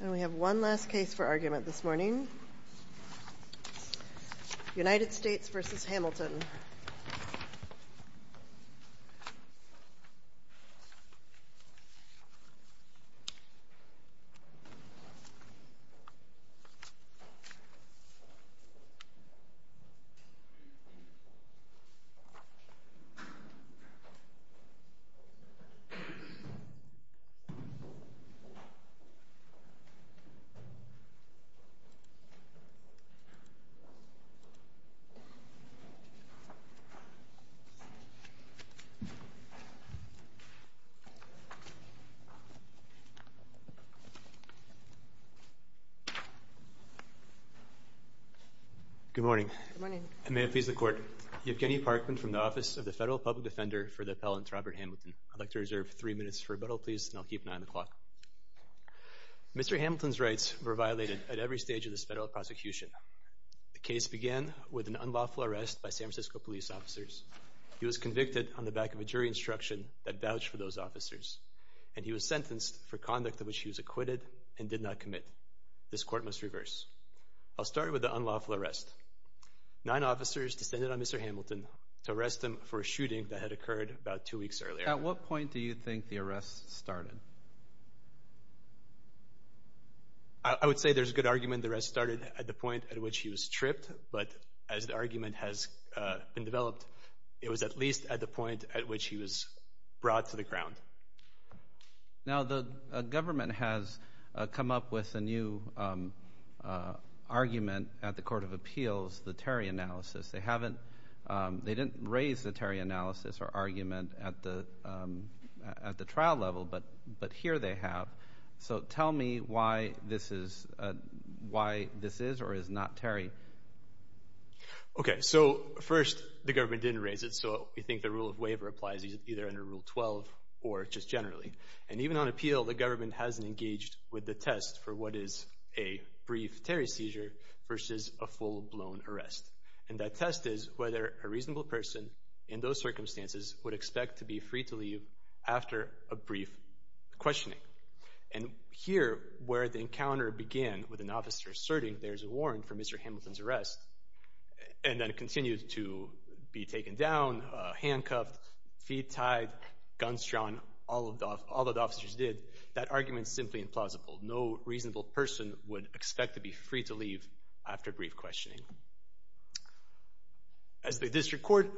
And we have one last case for argument this morning, United States v. Hamilton. Good morning. May it please the Court. Evgeny Parkman from the Office of the Federal Public Defender for the Appellant, Robert Hamilton. I'd like to reserve three minutes for rebuttal, please, and I'll keep nine o'clock. Mr. Hamilton's rights were violated at every stage of this federal prosecution. The case began with an unlawful arrest by San Francisco police officers. He was convicted on the back of a jury instruction that vouched for those officers, and he was sentenced for conduct of which he was acquitted and did not commit. This Court must reverse. I'll start with the unlawful arrest. Nine officers descended on Mr. Hamilton to arrest him for a shooting that had occurred about two weeks earlier. At what point do you think the arrest started? I would say there's a good argument the arrest started at the point at which he was tripped, but as the argument has been developed, it was at least at the point at which he was brought to the ground. Now, the government has come up with a new argument at the Court of Appeals, the Terry analysis. They didn't raise the Terry analysis or argument at the trial level, but here they have. So, tell me why this is or is not Terry. Okay. So, first, the government didn't raise it, so we think the rule of waiver applies either under Rule 12 or just generally. And even on appeal, the government hasn't engaged with the test for what is a brief Terry seizure versus a full-blown arrest. And that test is whether a reasonable person in those circumstances would expect to be free to leave after a brief questioning. And here, where the encounter began with an officer asserting there's a warrant for Mr. Hamilton's arrest and then continued to be taken down, handcuffed, feet tied, guns drawn, all that officers did, that reasonable person would expect to be free to leave after brief questioning. As the district court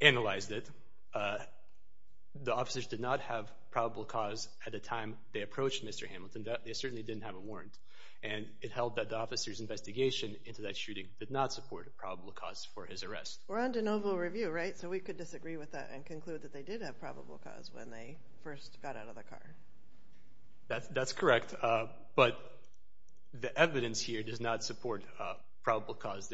analyzed it, the officers did not have probable cause at the time they approached Mr. Hamilton. They certainly didn't have a warrant. And it held that the officer's investigation into that shooting did not support a probable cause for his arrest. We're on de novo review, right? So, we could disagree with that and conclude that they did have probable cause when they first got out of the car. That's correct. But the evidence here does not support probable cause.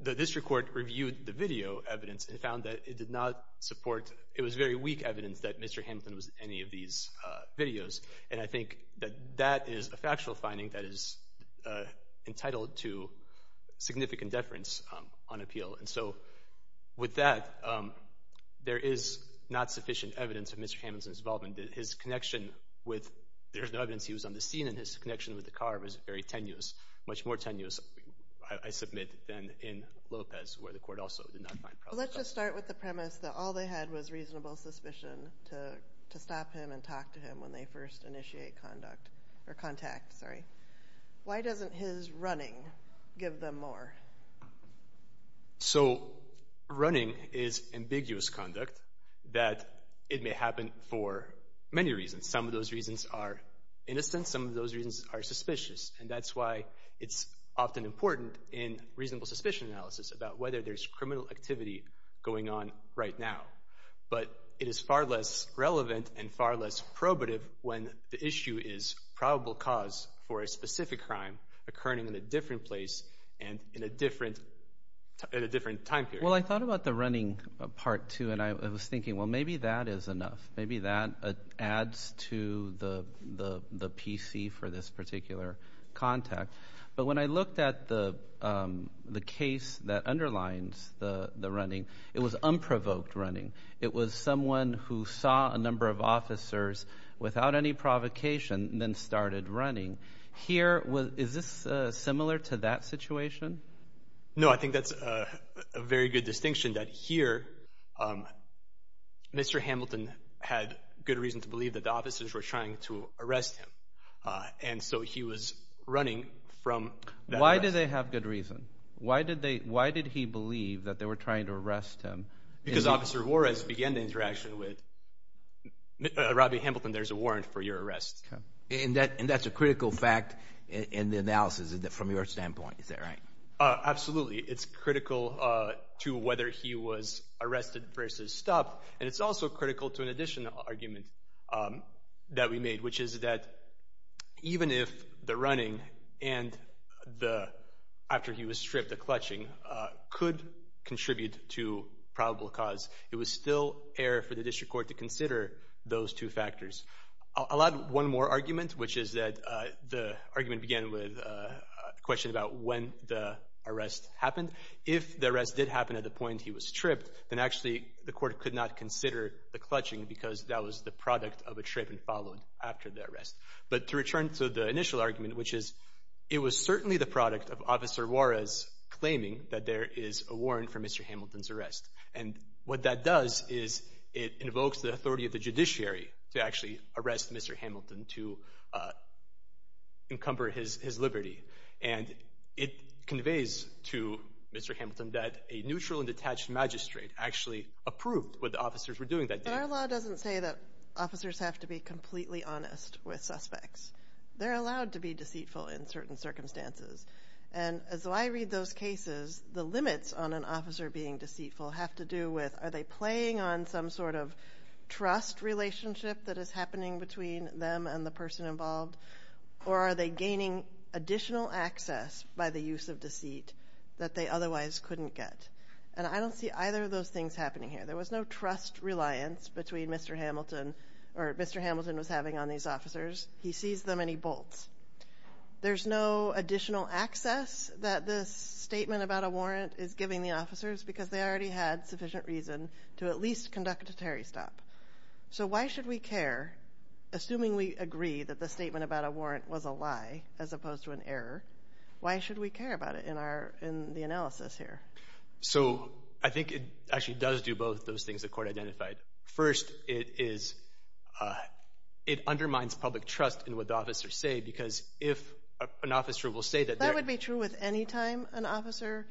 The district court reviewed the video evidence and found that it did not support, it was very weak evidence that Mr. Hamilton was in any of these videos. And I think that that is a factual finding that is entitled to significant deference on appeal. And so, with that, there is not sufficient evidence of Mr. Hamilton's involvement. His connection with, there's no evidence he was on the scene, and his connection with the car was very tenuous, much more tenuous, I submit, than in Lopez, where the court also did not find probable cause. Well, let's just start with the premise that all they had was reasonable suspicion to stop him and talk to him when they first initiate contact. Why doesn't his running give them more? So, running is ambiguous conduct that it may happen for many reasons. Some of those reasons are innocent. Some of those reasons are suspicious. And that's why it's often important in reasonable suspicion analysis about whether there's criminal activity going on right now. But it is far less relevant and far less probative when the issue is probable cause for a specific crime occurring in a different place and in a different time period. Well, I thought about the running part, too, and I was thinking, well, maybe that is enough. Maybe that adds to the PC for this particular contact. But when I looked at the case that underlines the running, it was unprovoked running. It was someone who saw a number of officers without any provocation and then started running. Here, is this similar to that situation? No, I think that's a very good distinction that here Mr. Hamilton had good reason to believe that the officers were trying to arrest him. And so he was running from that arrest. Why did they have good reason? Why did he believe that they were trying to arrest him? Because Officer Juarez began the interaction with Robby Hamilton, there's a warrant for your arrest. And that's a critical fact in the analysis from your standpoint, is that right? Absolutely. It's critical to whether he was arrested versus stopped. And it's also critical to an additional argument that we made, which is that even if the running and the, after he was stripped the clutching, could have contributed to probable cause. It was still error for the district court to consider those two factors. One more argument, which is that the argument began with a question about when the arrest happened. If the arrest did happen at the point he was stripped, then actually the court could not consider the clutching because that was the product of a trip and followed after the arrest. But to return to the initial argument, which is it was certainly the product of Officer Juarez claiming that there is a warrant for Mr. Hamilton's arrest. And what that does is it invokes the authority of the judiciary to actually arrest Mr. Hamilton to encumber his liberty. And it conveys to Mr. Hamilton that a neutral and detached magistrate actually approved what the officers were doing that day. But our law doesn't say that officers have to be completely honest with suspects. They're allowed to be deceitful in certain circumstances. And as I read those cases, the limits on an officer being deceitful have to do with are they playing on some sort of trust relationship that is happening between them and the person involved? Or are they gaining additional access by the use of deceit that they otherwise couldn't get? And I don't see either of those things happening here. There was no trust reliance between Mr. Hamilton or Mr. Hamilton was having on these officers. He sees them and he bolts. There's no additional access that this statement about a warrant is giving the officers because they already had sufficient reason to at least conduct a Terry stop. So why should we care? Assuming we agree that the statement about a warrant was a lie as opposed to an error, why should we care about it in our in the analysis here? So I think it actually does do both those things the court identified. First, it is it undermines public trust in what the officers say, because if an officer will say that that would be true with any time an officer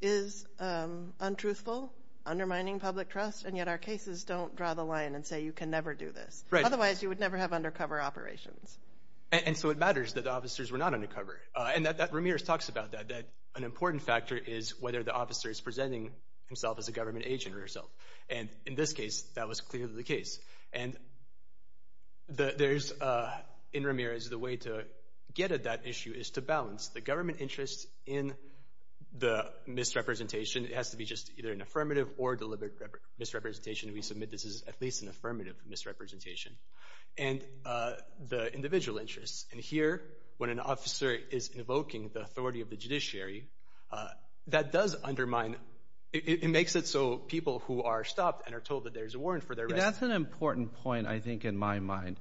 is untruthful, undermining public trust. And yet our cases don't draw the line and say, you can never do this, right? Otherwise, you would never have undercover operations. And so it matters that officers were not undercover. And that that Ramirez talks about that, that an important factor is whether the officer is presenting himself as a government agent or herself. And in this case, that was clearly the case. And the there's in Ramirez, the way to get at that issue is to balance the government interests in the misrepresentation. It has to be just either an affirmative or deliberate misrepresentation. We submit this is at least an affirmative misrepresentation and the individual interests. And here, when an officer is invoking the authority of the judiciary, that does undermine. It makes it so people who are stopped and are told that there's a warrant for their. That's an important point, I think, in my mind,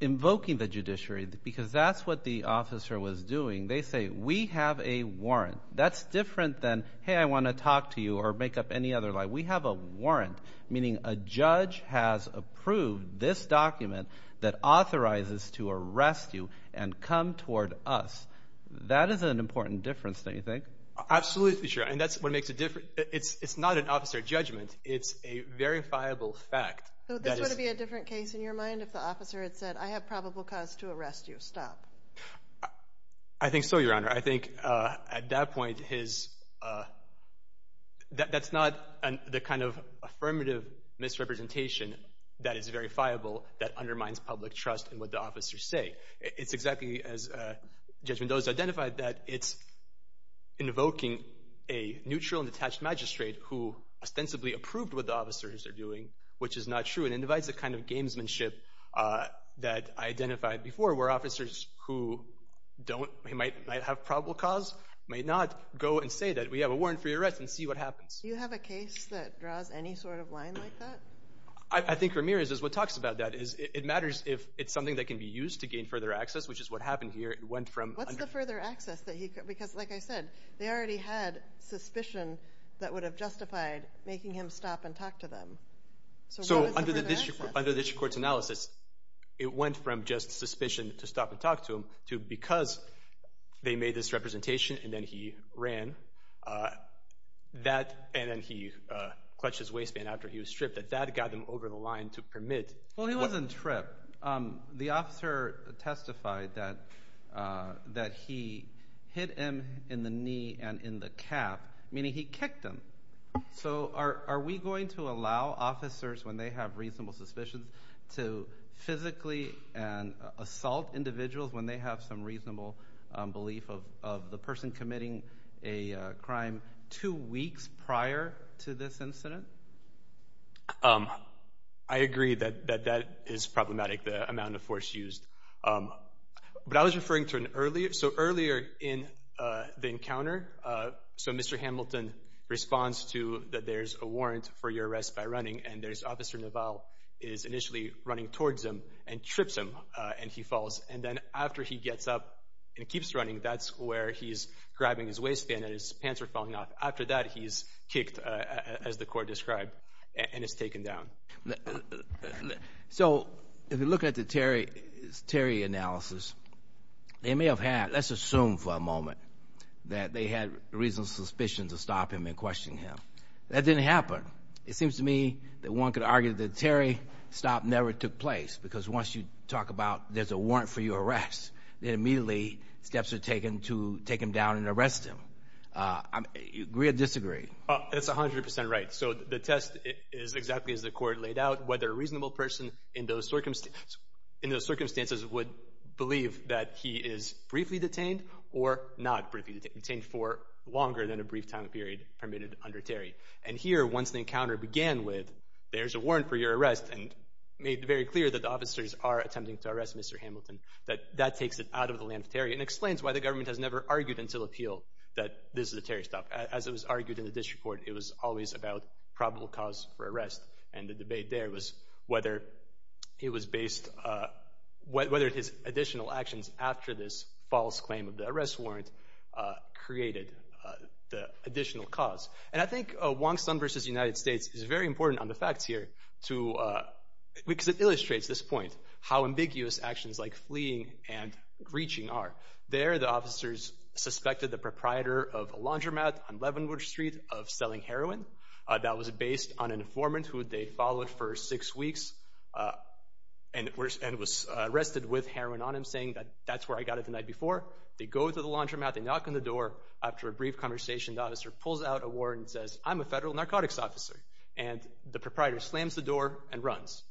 invoking the judiciary, because that's what the officer was doing. They say we have a warrant. That's different than, hey, I want to talk to you or make up any other lie. We have a warrant, meaning a judge has approved this document that authorizes to arrest you and come toward us. That is an important difference, don't you think? Absolutely. Sure. And that's what judgment. It's a verifiable fact. This would be a different case in your mind if the officer had said, I have probable cause to arrest you. Stop. I think so, Your Honor. I think at that point, his that's not the kind of affirmative misrepresentation that is verifiable that undermines public trust in what the officers say. It's exactly as Judge Mendoza identified that it's invoking a neutral and detached magistrate who ostensibly approved what the officers are doing, which is not true. It individes the kind of gamesmanship that I identified before, where officers who might have probable cause may not go and say that we have a warrant for your arrest and see what happens. Do you have a case that draws any sort of line like that? I think Ramirez is what talks about that. It matters if it's something that can be used to gain further access, which is what happened here. It went from... What's the further access that he... Because like I said, they already had suspicion that would have justified making him stop and talk to them. So what is the further access? Under the district court's analysis, it went from just suspicion to stop and talk to him to because they made this representation and then he ran, and then he clutched his waistband after he was stripped, that that got him over the line to permit... Well, he wasn't stripped. The officer testified that he hit him in the knee and in the cap, meaning he kicked him. So are we going to allow officers when they have reasonable suspicions to physically assault individuals when they have some reasonable belief of the person committing a crime two the amount of force used. But I was referring to an earlier... So earlier in the encounter, so Mr. Hamilton responds to that there's a warrant for your arrest by running and there's Officer Naval is initially running towards him and trips him and he falls. And then after he gets up and keeps running, that's where he's grabbing his waistband and his pants are falling off. After that, he's kicked as the court described, and it's taken down. So if you look at the Terry analysis, they may have had, let's assume for a moment that they had reasonable suspicion to stop him and question him. That didn't happen. It seems to me that one could argue that the Terry stop never took place because once you talk about there's a warrant for your arrest, then immediately steps are taken to take him down and arrest him. Agree or disagree? That's 100% right. So the test is exactly as the court laid out, whether a reasonable person in those circumstances would believe that he is briefly detained or not briefly detained for longer than a brief time period permitted under Terry. And here, once the encounter began with there's a warrant for your arrest and made very clear that the officers are attempting to arrest Mr. Hamilton, that that takes it out of the land of Terry and explains why the government has never argued until appeal that this is a Terry stop. As it was argued in the district court, it was always about probable cause for arrest. And the debate there was whether it was based, whether his additional actions after this false claim of the arrest warrant created the additional cause. And I think Wong Sun versus United States is very important on the facts here because it fleeing and reaching are. There, the officers suspected the proprietor of a laundromat on Leavenworth Street of selling heroin. That was based on an informant who they followed for six weeks and was arrested with heroin on him, saying that that's where I got it the night before. They go to the laundromat, they knock on the door. After a brief conversation, the officer pulls out a warrant and says, I'm a federal narcotics officer. And the proprietor slams the door and runs.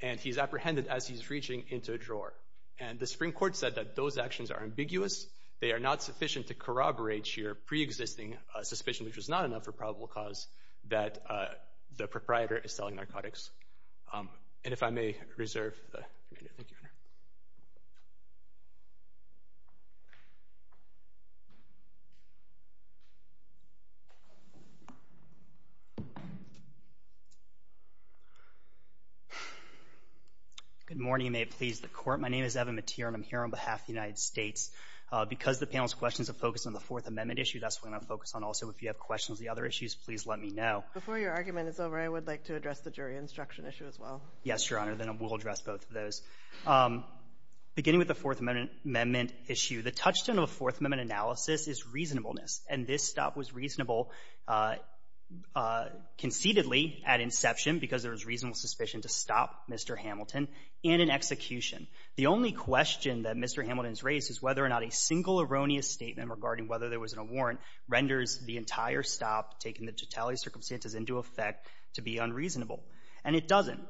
And he's apprehended as he's reaching into a drawer. And the Supreme Court said that those actions are ambiguous. They are not sufficient to corroborate your preexisting suspicion, which was not enough for probable cause that the proprietor is selling heroin. Good morning. May it please the Court. My name is Evan Matir, and I'm here on behalf of the United States. Because the panel's questions are focused on the Fourth Amendment issue, that's what I'm going to focus on. Also, if you have questions on the other issues, please let me know. Before your argument is over, I would like to address the jury instruction issue as well. Yes, Your Honor. Then we'll address both of those. Beginning with the Fourth Amendment issue, the touchstone of the Fourth Amendment analysis is reasonableness. And this stop was reasonable suspicion to stop Mr. Hamilton in an execution. The only question that Mr. Hamilton's raised is whether or not a single erroneous statement regarding whether there was a warrant renders the entire stop, taking the totality of circumstances into effect, to be unreasonable. And it doesn't.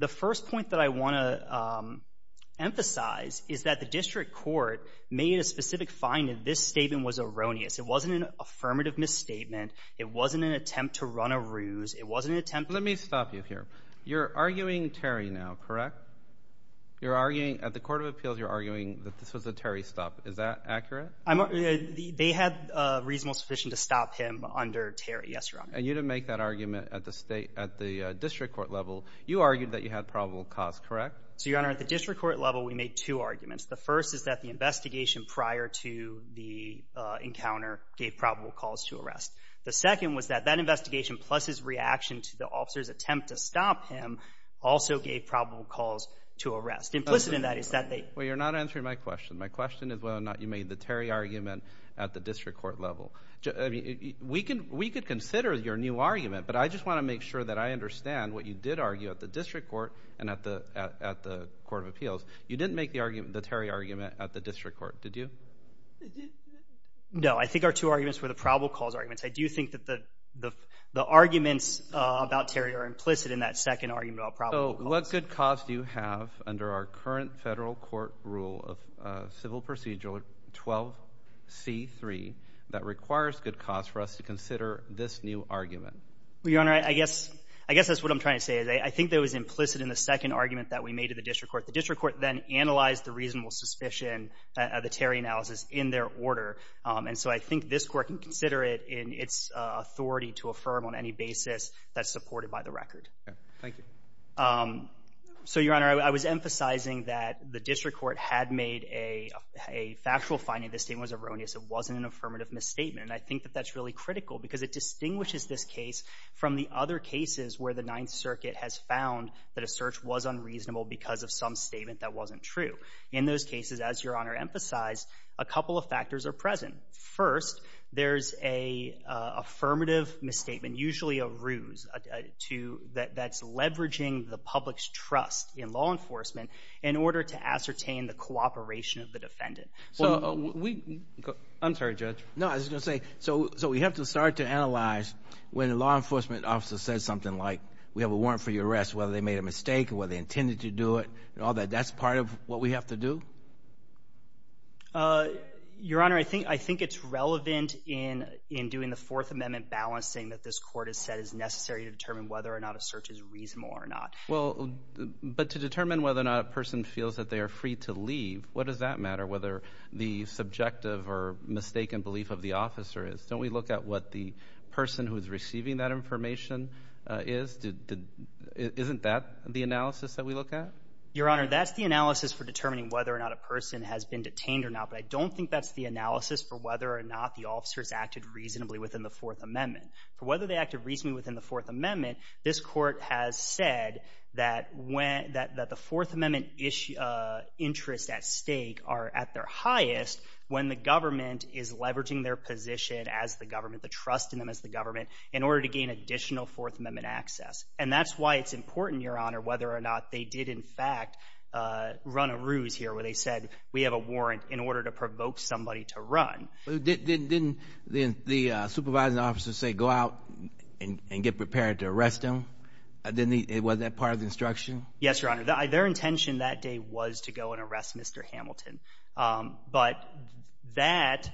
The first point that I want to emphasize is that the district court made a specific finding. This statement was erroneous. It wasn't an affirmative misstatement. It wasn't an attempt to run a ruse. It wasn't an attempt— You're arguing Terry now, correct? You're arguing—at the Court of Appeals, you're arguing that this was a Terry stop. Is that accurate? They had reasonable suspicion to stop him under Terry, yes, Your Honor. And you didn't make that argument at the district court level. You argued that you had probable cause, correct? So, Your Honor, at the district court level, we made two arguments. The first is that the investigation prior to the encounter gave probable cause to arrest. The second was that that investigation, plus his reaction to the officer's attempt to stop him, also gave probable cause to arrest. Implicit in that is that they— Well, you're not answering my question. My question is whether or not you made the Terry argument at the district court level. We could consider your new argument, but I just want to make sure that I understand what you did argue at the district court and at the Court of Appeals. You didn't make the Terry argument at the district court, did you? No. I think our two arguments were the probable cause arguments. I do think that the arguments about Terry are implicit in that second argument about probable cause. So, what good cause do you have under our current federal court rule of civil procedure 12C3 that requires good cause for us to consider this new argument? Well, Your Honor, I guess that's what I'm trying to say. I think that it was implicit in the second argument that we made at the district court. The district court then analyzed the reasonable suspicion of the Terry analysis in their order. And so, I think this court can consider it in its authority to affirm on any basis that's supported by the record. Thank you. So, Your Honor, I was emphasizing that the district court had made a factual finding. The statement was erroneous. It wasn't an affirmative misstatement. And I think that that's really critical because it distinguishes this case from the other cases where the Ninth In those cases, as Your Honor emphasized, a couple of factors are present. First, there's an affirmative misstatement, usually a ruse, that's leveraging the public's trust in law enforcement in order to ascertain the cooperation of the defendant. I'm sorry, Judge. No, I was just going to say, so we have to start to analyze when a law enforcement officer says something like, we have a warrant for your arrest, whether they made a mistake or whether they intended to do it, and all that. That's part of what we have to do? Your Honor, I think it's relevant in doing the Fourth Amendment balancing that this court has said is necessary to determine whether or not a search is reasonable or not. Well, but to determine whether or not a person feels that they are free to leave, what does that matter, whether the subjective or mistaken belief of the officer is? Don't we look at what the person who's receiving that information is? Isn't that the analysis that we look at? Your Honor, that's the analysis for determining whether or not a person has been detained or not, but I don't think that's the analysis for whether or not the officers acted reasonably within the Fourth Amendment. For whether they acted reasonably within the Fourth Amendment, this court has said that the Fourth Amendment interests at stake are at their highest when the government is leveraging their position as the government, the trust in them as the government, in order to gain additional Fourth Amendment access. And that's why it's important, Your Honor, whether or not they did in fact run a ruse here where they said, we have a warrant in order to provoke somebody to run. Didn't the supervising officer say, go out and get prepared to arrest him? Wasn't that part of the instruction? Yes, Your Honor. Their intention that day was to go and arrest Mr. Hamilton, but that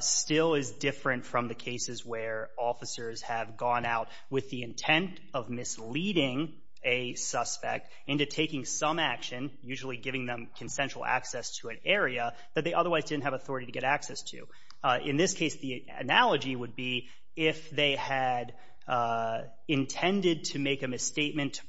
still is different from the cases where officers have gone out with the intent of misleading a suspect into taking some action, usually giving them consensual access to an area that they otherwise didn't have authority to get access to. In this case, the analogy would be if they had intended to make a misstatement to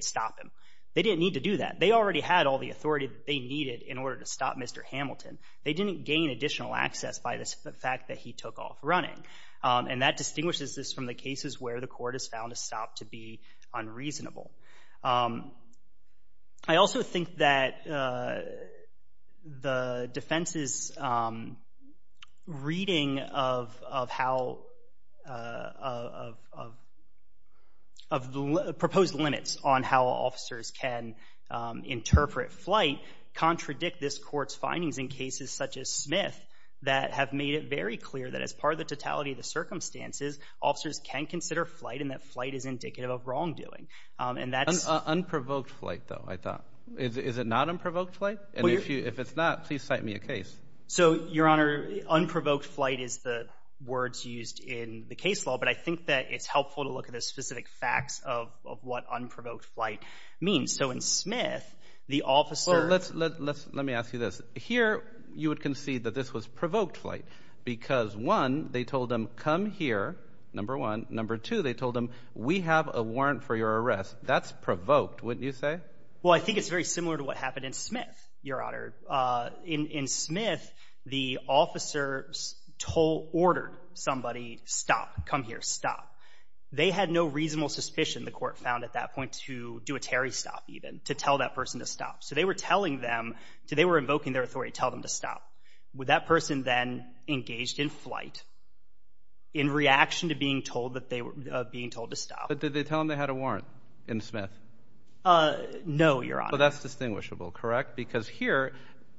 stop him. They didn't need to do that. They already had all the authority they needed in order to stop Mr. Hamilton. They didn't gain additional access by the fact that he took off running. And that distinguishes this from the cases where the court has found a stop to be on how officers can interpret flight contradict this court's findings in cases such as Smith that have made it very clear that as part of the totality of the circumstances, officers can consider flight and that flight is indicative of wrongdoing. Unprovoked flight, though, I thought. Is it not unprovoked flight? And if it's not, please cite me a case. So, Your Honor, unprovoked flight is the words used in the case law, but I think that it's helpful to look at the specific facts of what unprovoked flight means. So in Smith, the officer... Let me ask you this. Here, you would concede that this was provoked flight because, one, they told him, come here, number one. Number two, they told him, we have a warrant for your arrest. That's provoked, wouldn't you say? Well, I think it's very similar to what happened in Smith, Your Honor. In Smith, the officers told, ordered somebody, stop, come here, stop. They had no reasonable suspicion, the court found at that point, to do a Terry stop, even, to tell that person to stop. So they were telling them, they were invoking their authority to tell them to stop. Would that person then engage in flight in reaction to being told that they were being told to stop? But did they tell him they had a warrant in Smith? No, Your Honor. That's distinguishable, correct? Because here,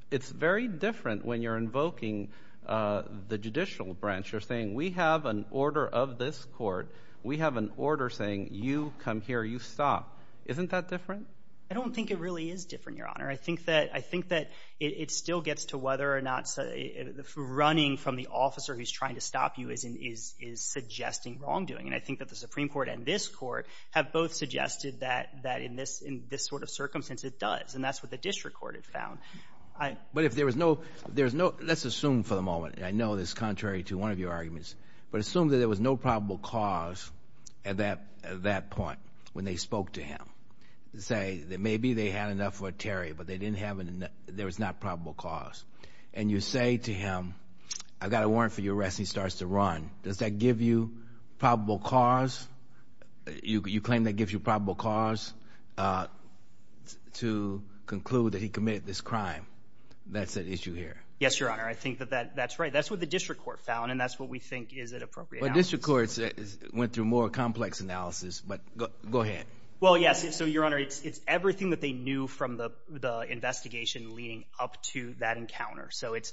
it's very different when you're invoking the judicial branch. You're saying, we have an order of this court. We have an order saying, you come here, you stop. Isn't that different? I don't think it really is different, Your Honor. I think that it still gets to whether or not running from the officer who's trying to stop you is suggesting wrongdoing. And I think that Supreme Court and this court have both suggested that in this sort of circumstance, it does, and that's what the district court had found. But if there was no, let's assume for the moment, and I know this is contrary to one of your arguments, but assume that there was no probable cause at that point when they spoke to him, say that maybe they had enough for a Terry, but there was not probable cause. And you say to him, I've got a warrant for your arrest, and he starts to run. Does that give you you claim that gives you probable cause to conclude that he committed this crime? That's an issue here. Yes, Your Honor. I think that that's right. That's what the district court found, and that's what we think is an appropriate analysis. But district courts went through more complex analysis, but go ahead. Well, yes. So, Your Honor, it's everything that they knew from the investigation leading up to that encounter. So, it's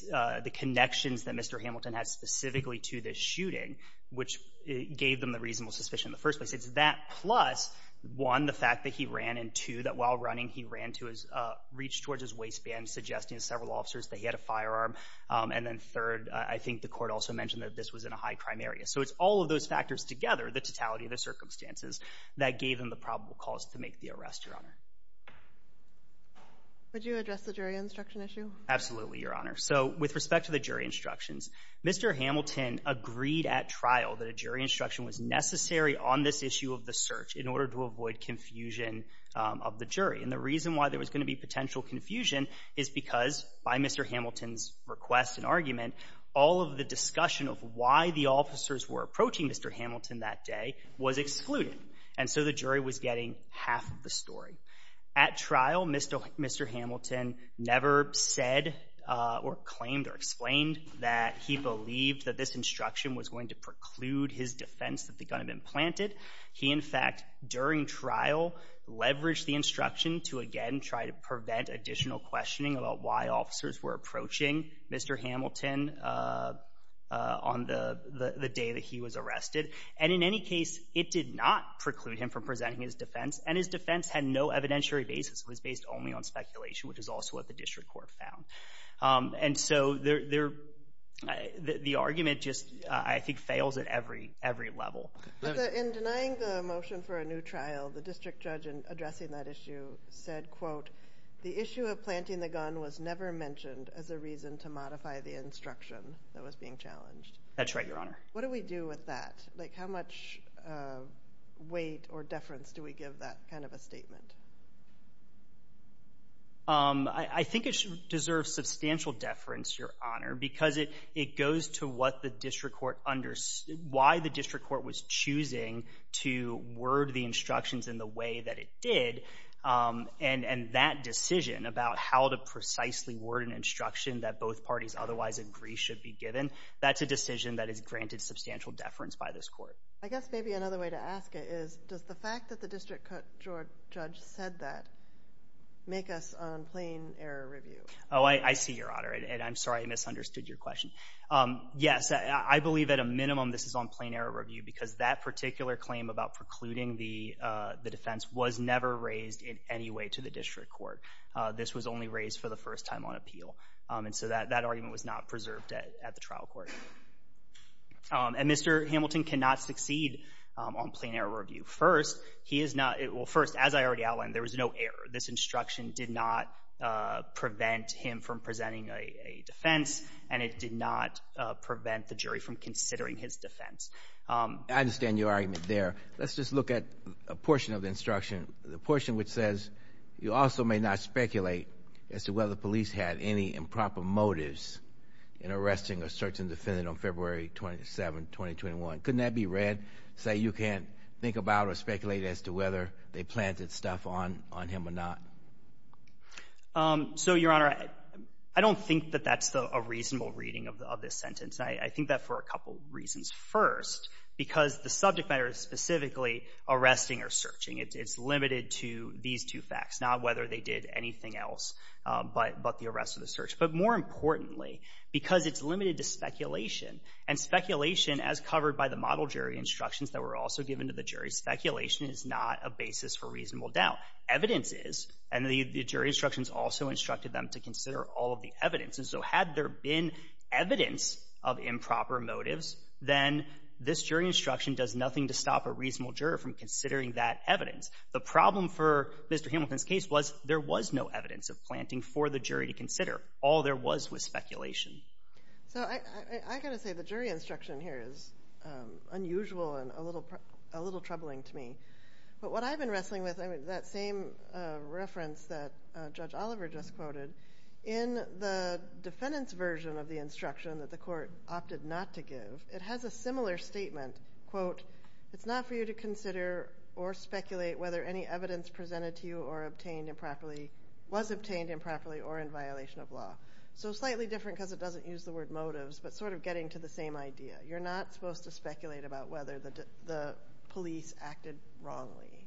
the connections that Mr. Hamilton has specifically to this shooting, which gave them the reasonable suspicion in the first place. It's that plus, one, the fact that he ran, and two, that while running, he ran to his reach towards his waistband, suggesting to several officers that he had a firearm. And then third, I think the court also mentioned that this was in a high crime area. So, it's all of those factors together, the totality of the circumstances that gave him the probable cause to make the arrest, Your Honor. Would you address the jury instruction issue? Absolutely, Your Honor. So, with respect to the jury instructions, Mr. Hamilton agreed at trial that a jury instruction was necessary on this issue of the search in order to avoid confusion of the jury. And the reason why there was going to be potential confusion is because, by Mr. Hamilton's request and argument, all of the discussion of why the officers were approaching Mr. Hamilton that day was excluded, and so the jury was getting half of the story. At trial, Mr. Hamilton never said, or claimed, or explained that he believed that this instruction was going to preclude his defense that the gun had been planted. He, in fact, during trial, leveraged the instruction to, again, try to prevent additional questioning about why officers were approaching Mr. Hamilton on the day that he was arrested. And in any case, it did not preclude him from presenting his defense, and his defense had no evidentiary basis. It was based only on speculation, which is also what the district court found. And so, the argument just, I think, fails at every level. In denying the motion for a new trial, the district judge, in addressing that issue, said, quote, the issue of planting the gun was never mentioned as a reason to modify the instruction that was being challenged. That's right, Your Honor. What do we do with that? Like, how much weight or deference do we give that kind of a statement? I think it should deserve substantial deference, Your Honor, because it goes to what the district court understood, why the district court was choosing to word the instructions in the way that it did, and that decision about how to precisely word an instruction that both parties otherwise agree should be given, that's a decision that is granted substantial deference by this court. I guess maybe another way to ask it is, does the fact that the district court judge said that make us on plain error review? Oh, I see, Your Honor, and I'm sorry I misunderstood your question. Yes, I believe at a minimum this is on plain error review because that particular claim about precluding the defense was never raised in any way to the district court. This was only raised for the first time on appeal. And so that argument was not preserved at the trial court. And Mr. Hamilton cannot succeed on plain error review. First, he is not, well, first, as I already outlined, there was no error. This instruction did not prevent him from presenting a defense, and it did not prevent the jury from considering his defense. I understand your argument there. Let's just look at a portion of the instruction, the portion which says you also may not speculate as to whether police had any improper motives in arresting a certain defendant on February 27, 2021. Couldn't that be read, say you can't think about or speculate as to whether they planted stuff on him or not? So, Your Honor, I don't think that that's a reasonable reading of this sentence. I think that for a couple reasons. First, because the subject matter is specifically arresting or to these two facts, not whether they did anything else but the arrest or the search. But more importantly, because it's limited to speculation, and speculation, as covered by the model jury instructions that were also given to the jury, speculation is not a basis for reasonable doubt. Evidence is, and the jury instructions also instructed them to consider all of the evidence. And so had there been evidence of improper motives, then this jury instruction does nothing to stop a reasonable juror from considering that evidence. The problem for Mr. Hamilton's case was there was no evidence of planting for the jury to consider. All there was was speculation. So I got to say the jury instruction here is unusual and a little troubling to me. But what I've been wrestling with, that same reference that Judge Oliver just quoted, in the defendant's version of the instruction that the court opted not to give, it has a similar statement, quote, it's not for you to consider or speculate whether any evidence presented to you or was obtained improperly or in violation of law. So slightly different because it doesn't use the word motives, but sort of getting to the same idea. You're not supposed to speculate about whether the police acted wrongly.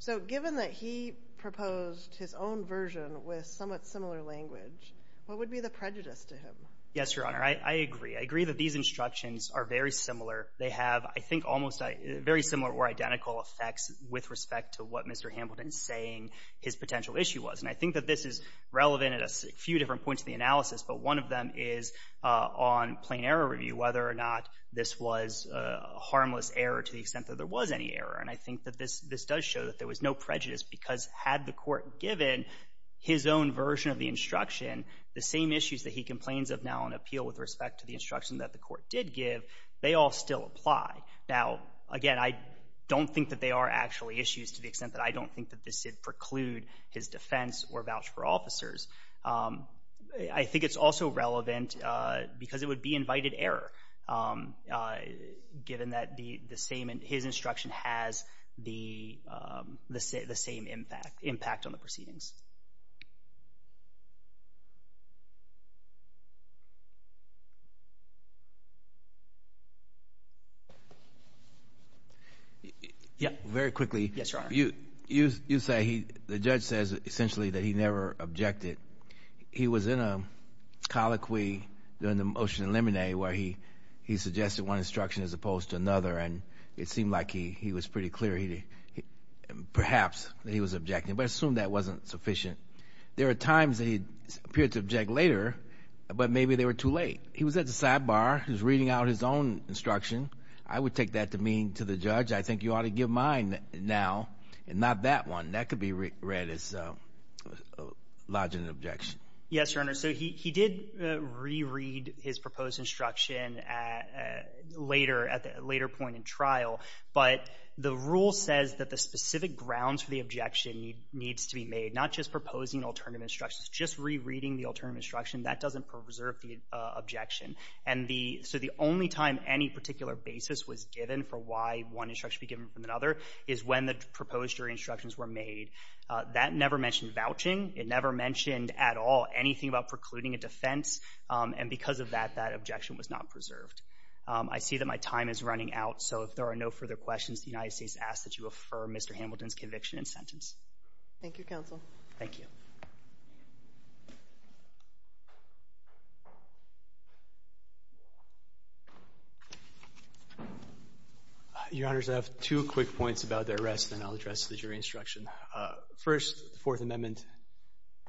So given that he proposed his own version with somewhat similar language, what would be the prejudice to him? Yes, Your Honor, I agree. I agree that these they have, I think, almost very similar or identical effects with respect to what Mr. Hamilton's saying his potential issue was. And I think that this is relevant at a few different points in the analysis, but one of them is on plain error review, whether or not this was a harmless error to the extent that there was any error. And I think that this does show that there was no prejudice because had the court given his own version of the instruction, the same issues that he complains of now on appeal with respect to the instruction that the court did give, they all still apply. Now, again, I don't think that they are actually issues to the extent that I don't think that this did preclude his defense or vouch for officers. I think it's also relevant because it would be invited error given that the same his instruction has the same impact on the proceedings. Yeah, very quickly. Yes, Your Honor. You say the judge says essentially that he never objected. He was in a colloquy during the motion to eliminate where he suggested one instruction as opposed to another. And it seemed like he was pretty clear, perhaps that he was objecting, but I assume that wasn't sufficient. There are times that he appeared to object later, but maybe they were too late. He was at the sidebar. He was reading out his own instruction. I would take that to mean to the judge, I think you ought to give mine now and not that one. That could be read as lodging an objection. Yes, Your Honor. So he did reread his proposed instruction later at the later point in trial. But the rule says that the specific grounds for the objection needs to be made, not just proposing alternative instructions, just rereading the alternative instruction that doesn't preserve the objection. And so the only time any particular basis was given for why one instruction should be given from another is when the proposed jury instructions were made. That never mentioned vouching. It never mentioned at all anything about precluding a defense. And because of that, that objection was not preserved. I see that my time is running out, so if there are no further questions, the United States asks that you affirm Mr. Hamilton's conviction and sentence. Thank you, counsel. Thank you. Your Honors, I have two quick points about the arrest, then I'll address the jury instruction. First, the Fourth Amendment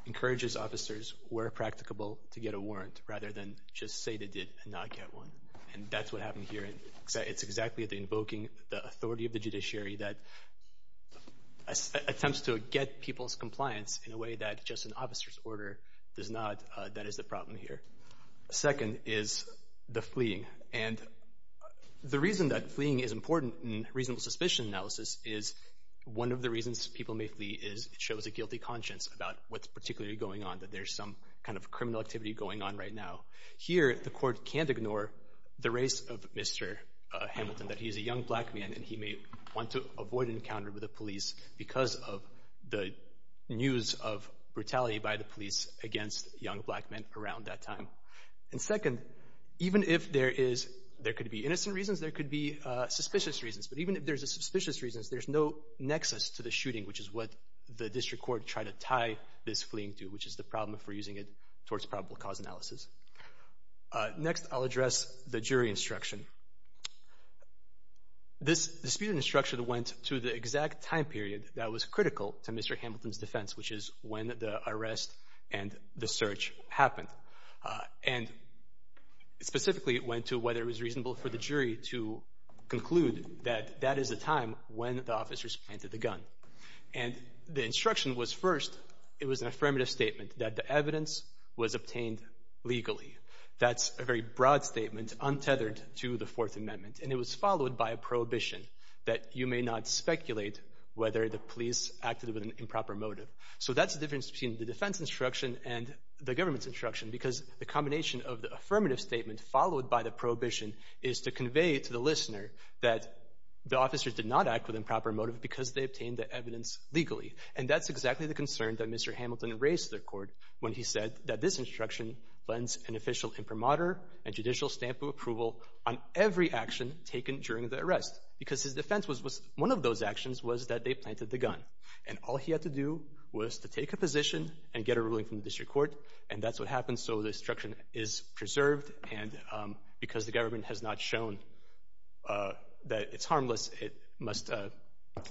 encourages officers, where practicable, to get a warrant rather than just say they did and not get one. And that's what happened here. It's exactly invoking the authority of the judiciary that attempts to get people's compliance in a way that just an officer's order does not. That is the problem here. Second is the fleeing. And the reason that fleeing is shows a guilty conscience about what's particularly going on, that there's some kind of criminal activity going on right now. Here, the court can't ignore the race of Mr. Hamilton, that he's a young black man and he may want to avoid an encounter with the police because of the news of brutality by the police against young black men around that time. And second, even if there is, there could be innocent reasons, there could be suspicious reasons, but even if there's suspicious reasons, there's no nexus to the shooting, which is what the district court tried to tie this fleeing to, which is the problem if we're using it towards probable cause analysis. Next, I'll address the jury instruction. This dispute instruction went to the exact time period that was critical to Mr. Hamilton's defense, which is when the arrest and the search happened. And specifically, it went to whether it was reasonable for the jury to when the officers planted the gun. And the instruction was first, it was an affirmative statement that the evidence was obtained legally. That's a very broad statement untethered to the Fourth Amendment. And it was followed by a prohibition that you may not speculate whether the police acted with an improper motive. So that's the difference between the defense instruction and the government's instruction, because the combination of the affirmative statement followed by the prohibition is to convey to the listener that the officers did not act with improper motive because they obtained the evidence legally. And that's exactly the concern that Mr. Hamilton raised to the court when he said that this instruction lends an official imprimatur and judicial stamp of approval on every action taken during the arrest, because his defense was one of those actions was that they planted the gun. And all he had to do was to take a position and get a ruling from the district court. And that's what happened. So the instruction is because the government has not shown that it's harmless, it must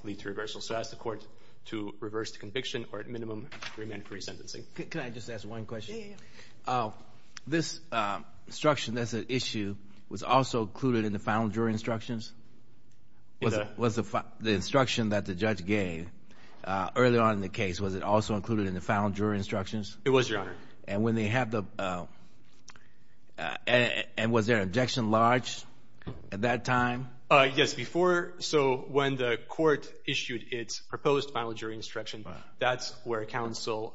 lead to reversal. So I ask the court to reverse the conviction or at minimum remand for resentencing. Can I just ask one question? This instruction that's an issue was also included in the final jury instructions? Was the instruction that the judge gave earlier on in the case, was it also included in the final jury instructions? It was, Your Honor. And was there an objection large at that time? Yes, before. So when the court issued its proposed final jury instruction, that's where counsel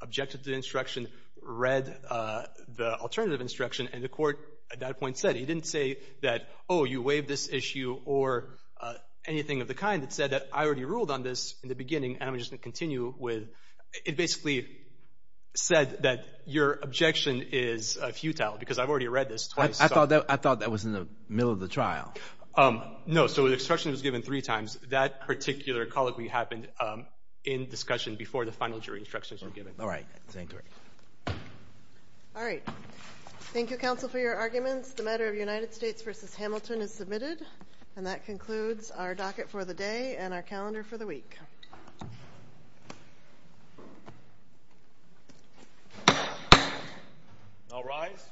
objected to the instruction, read the alternative instruction. And the court at that point said he didn't say that, oh, you waived this issue or anything of the kind. It said that I already ruled on this in the beginning and I'm just going to your objection is futile because I've already read this twice. I thought that was in the middle of the trial. No. So the instruction was given three times. That particular colloquy happened in discussion before the final jury instructions were given. All right. Thank you, counsel, for your arguments. The matter of United States versus Hamilton is submitted. And that concludes our docket for the day and our calendar for the week. I'll rise.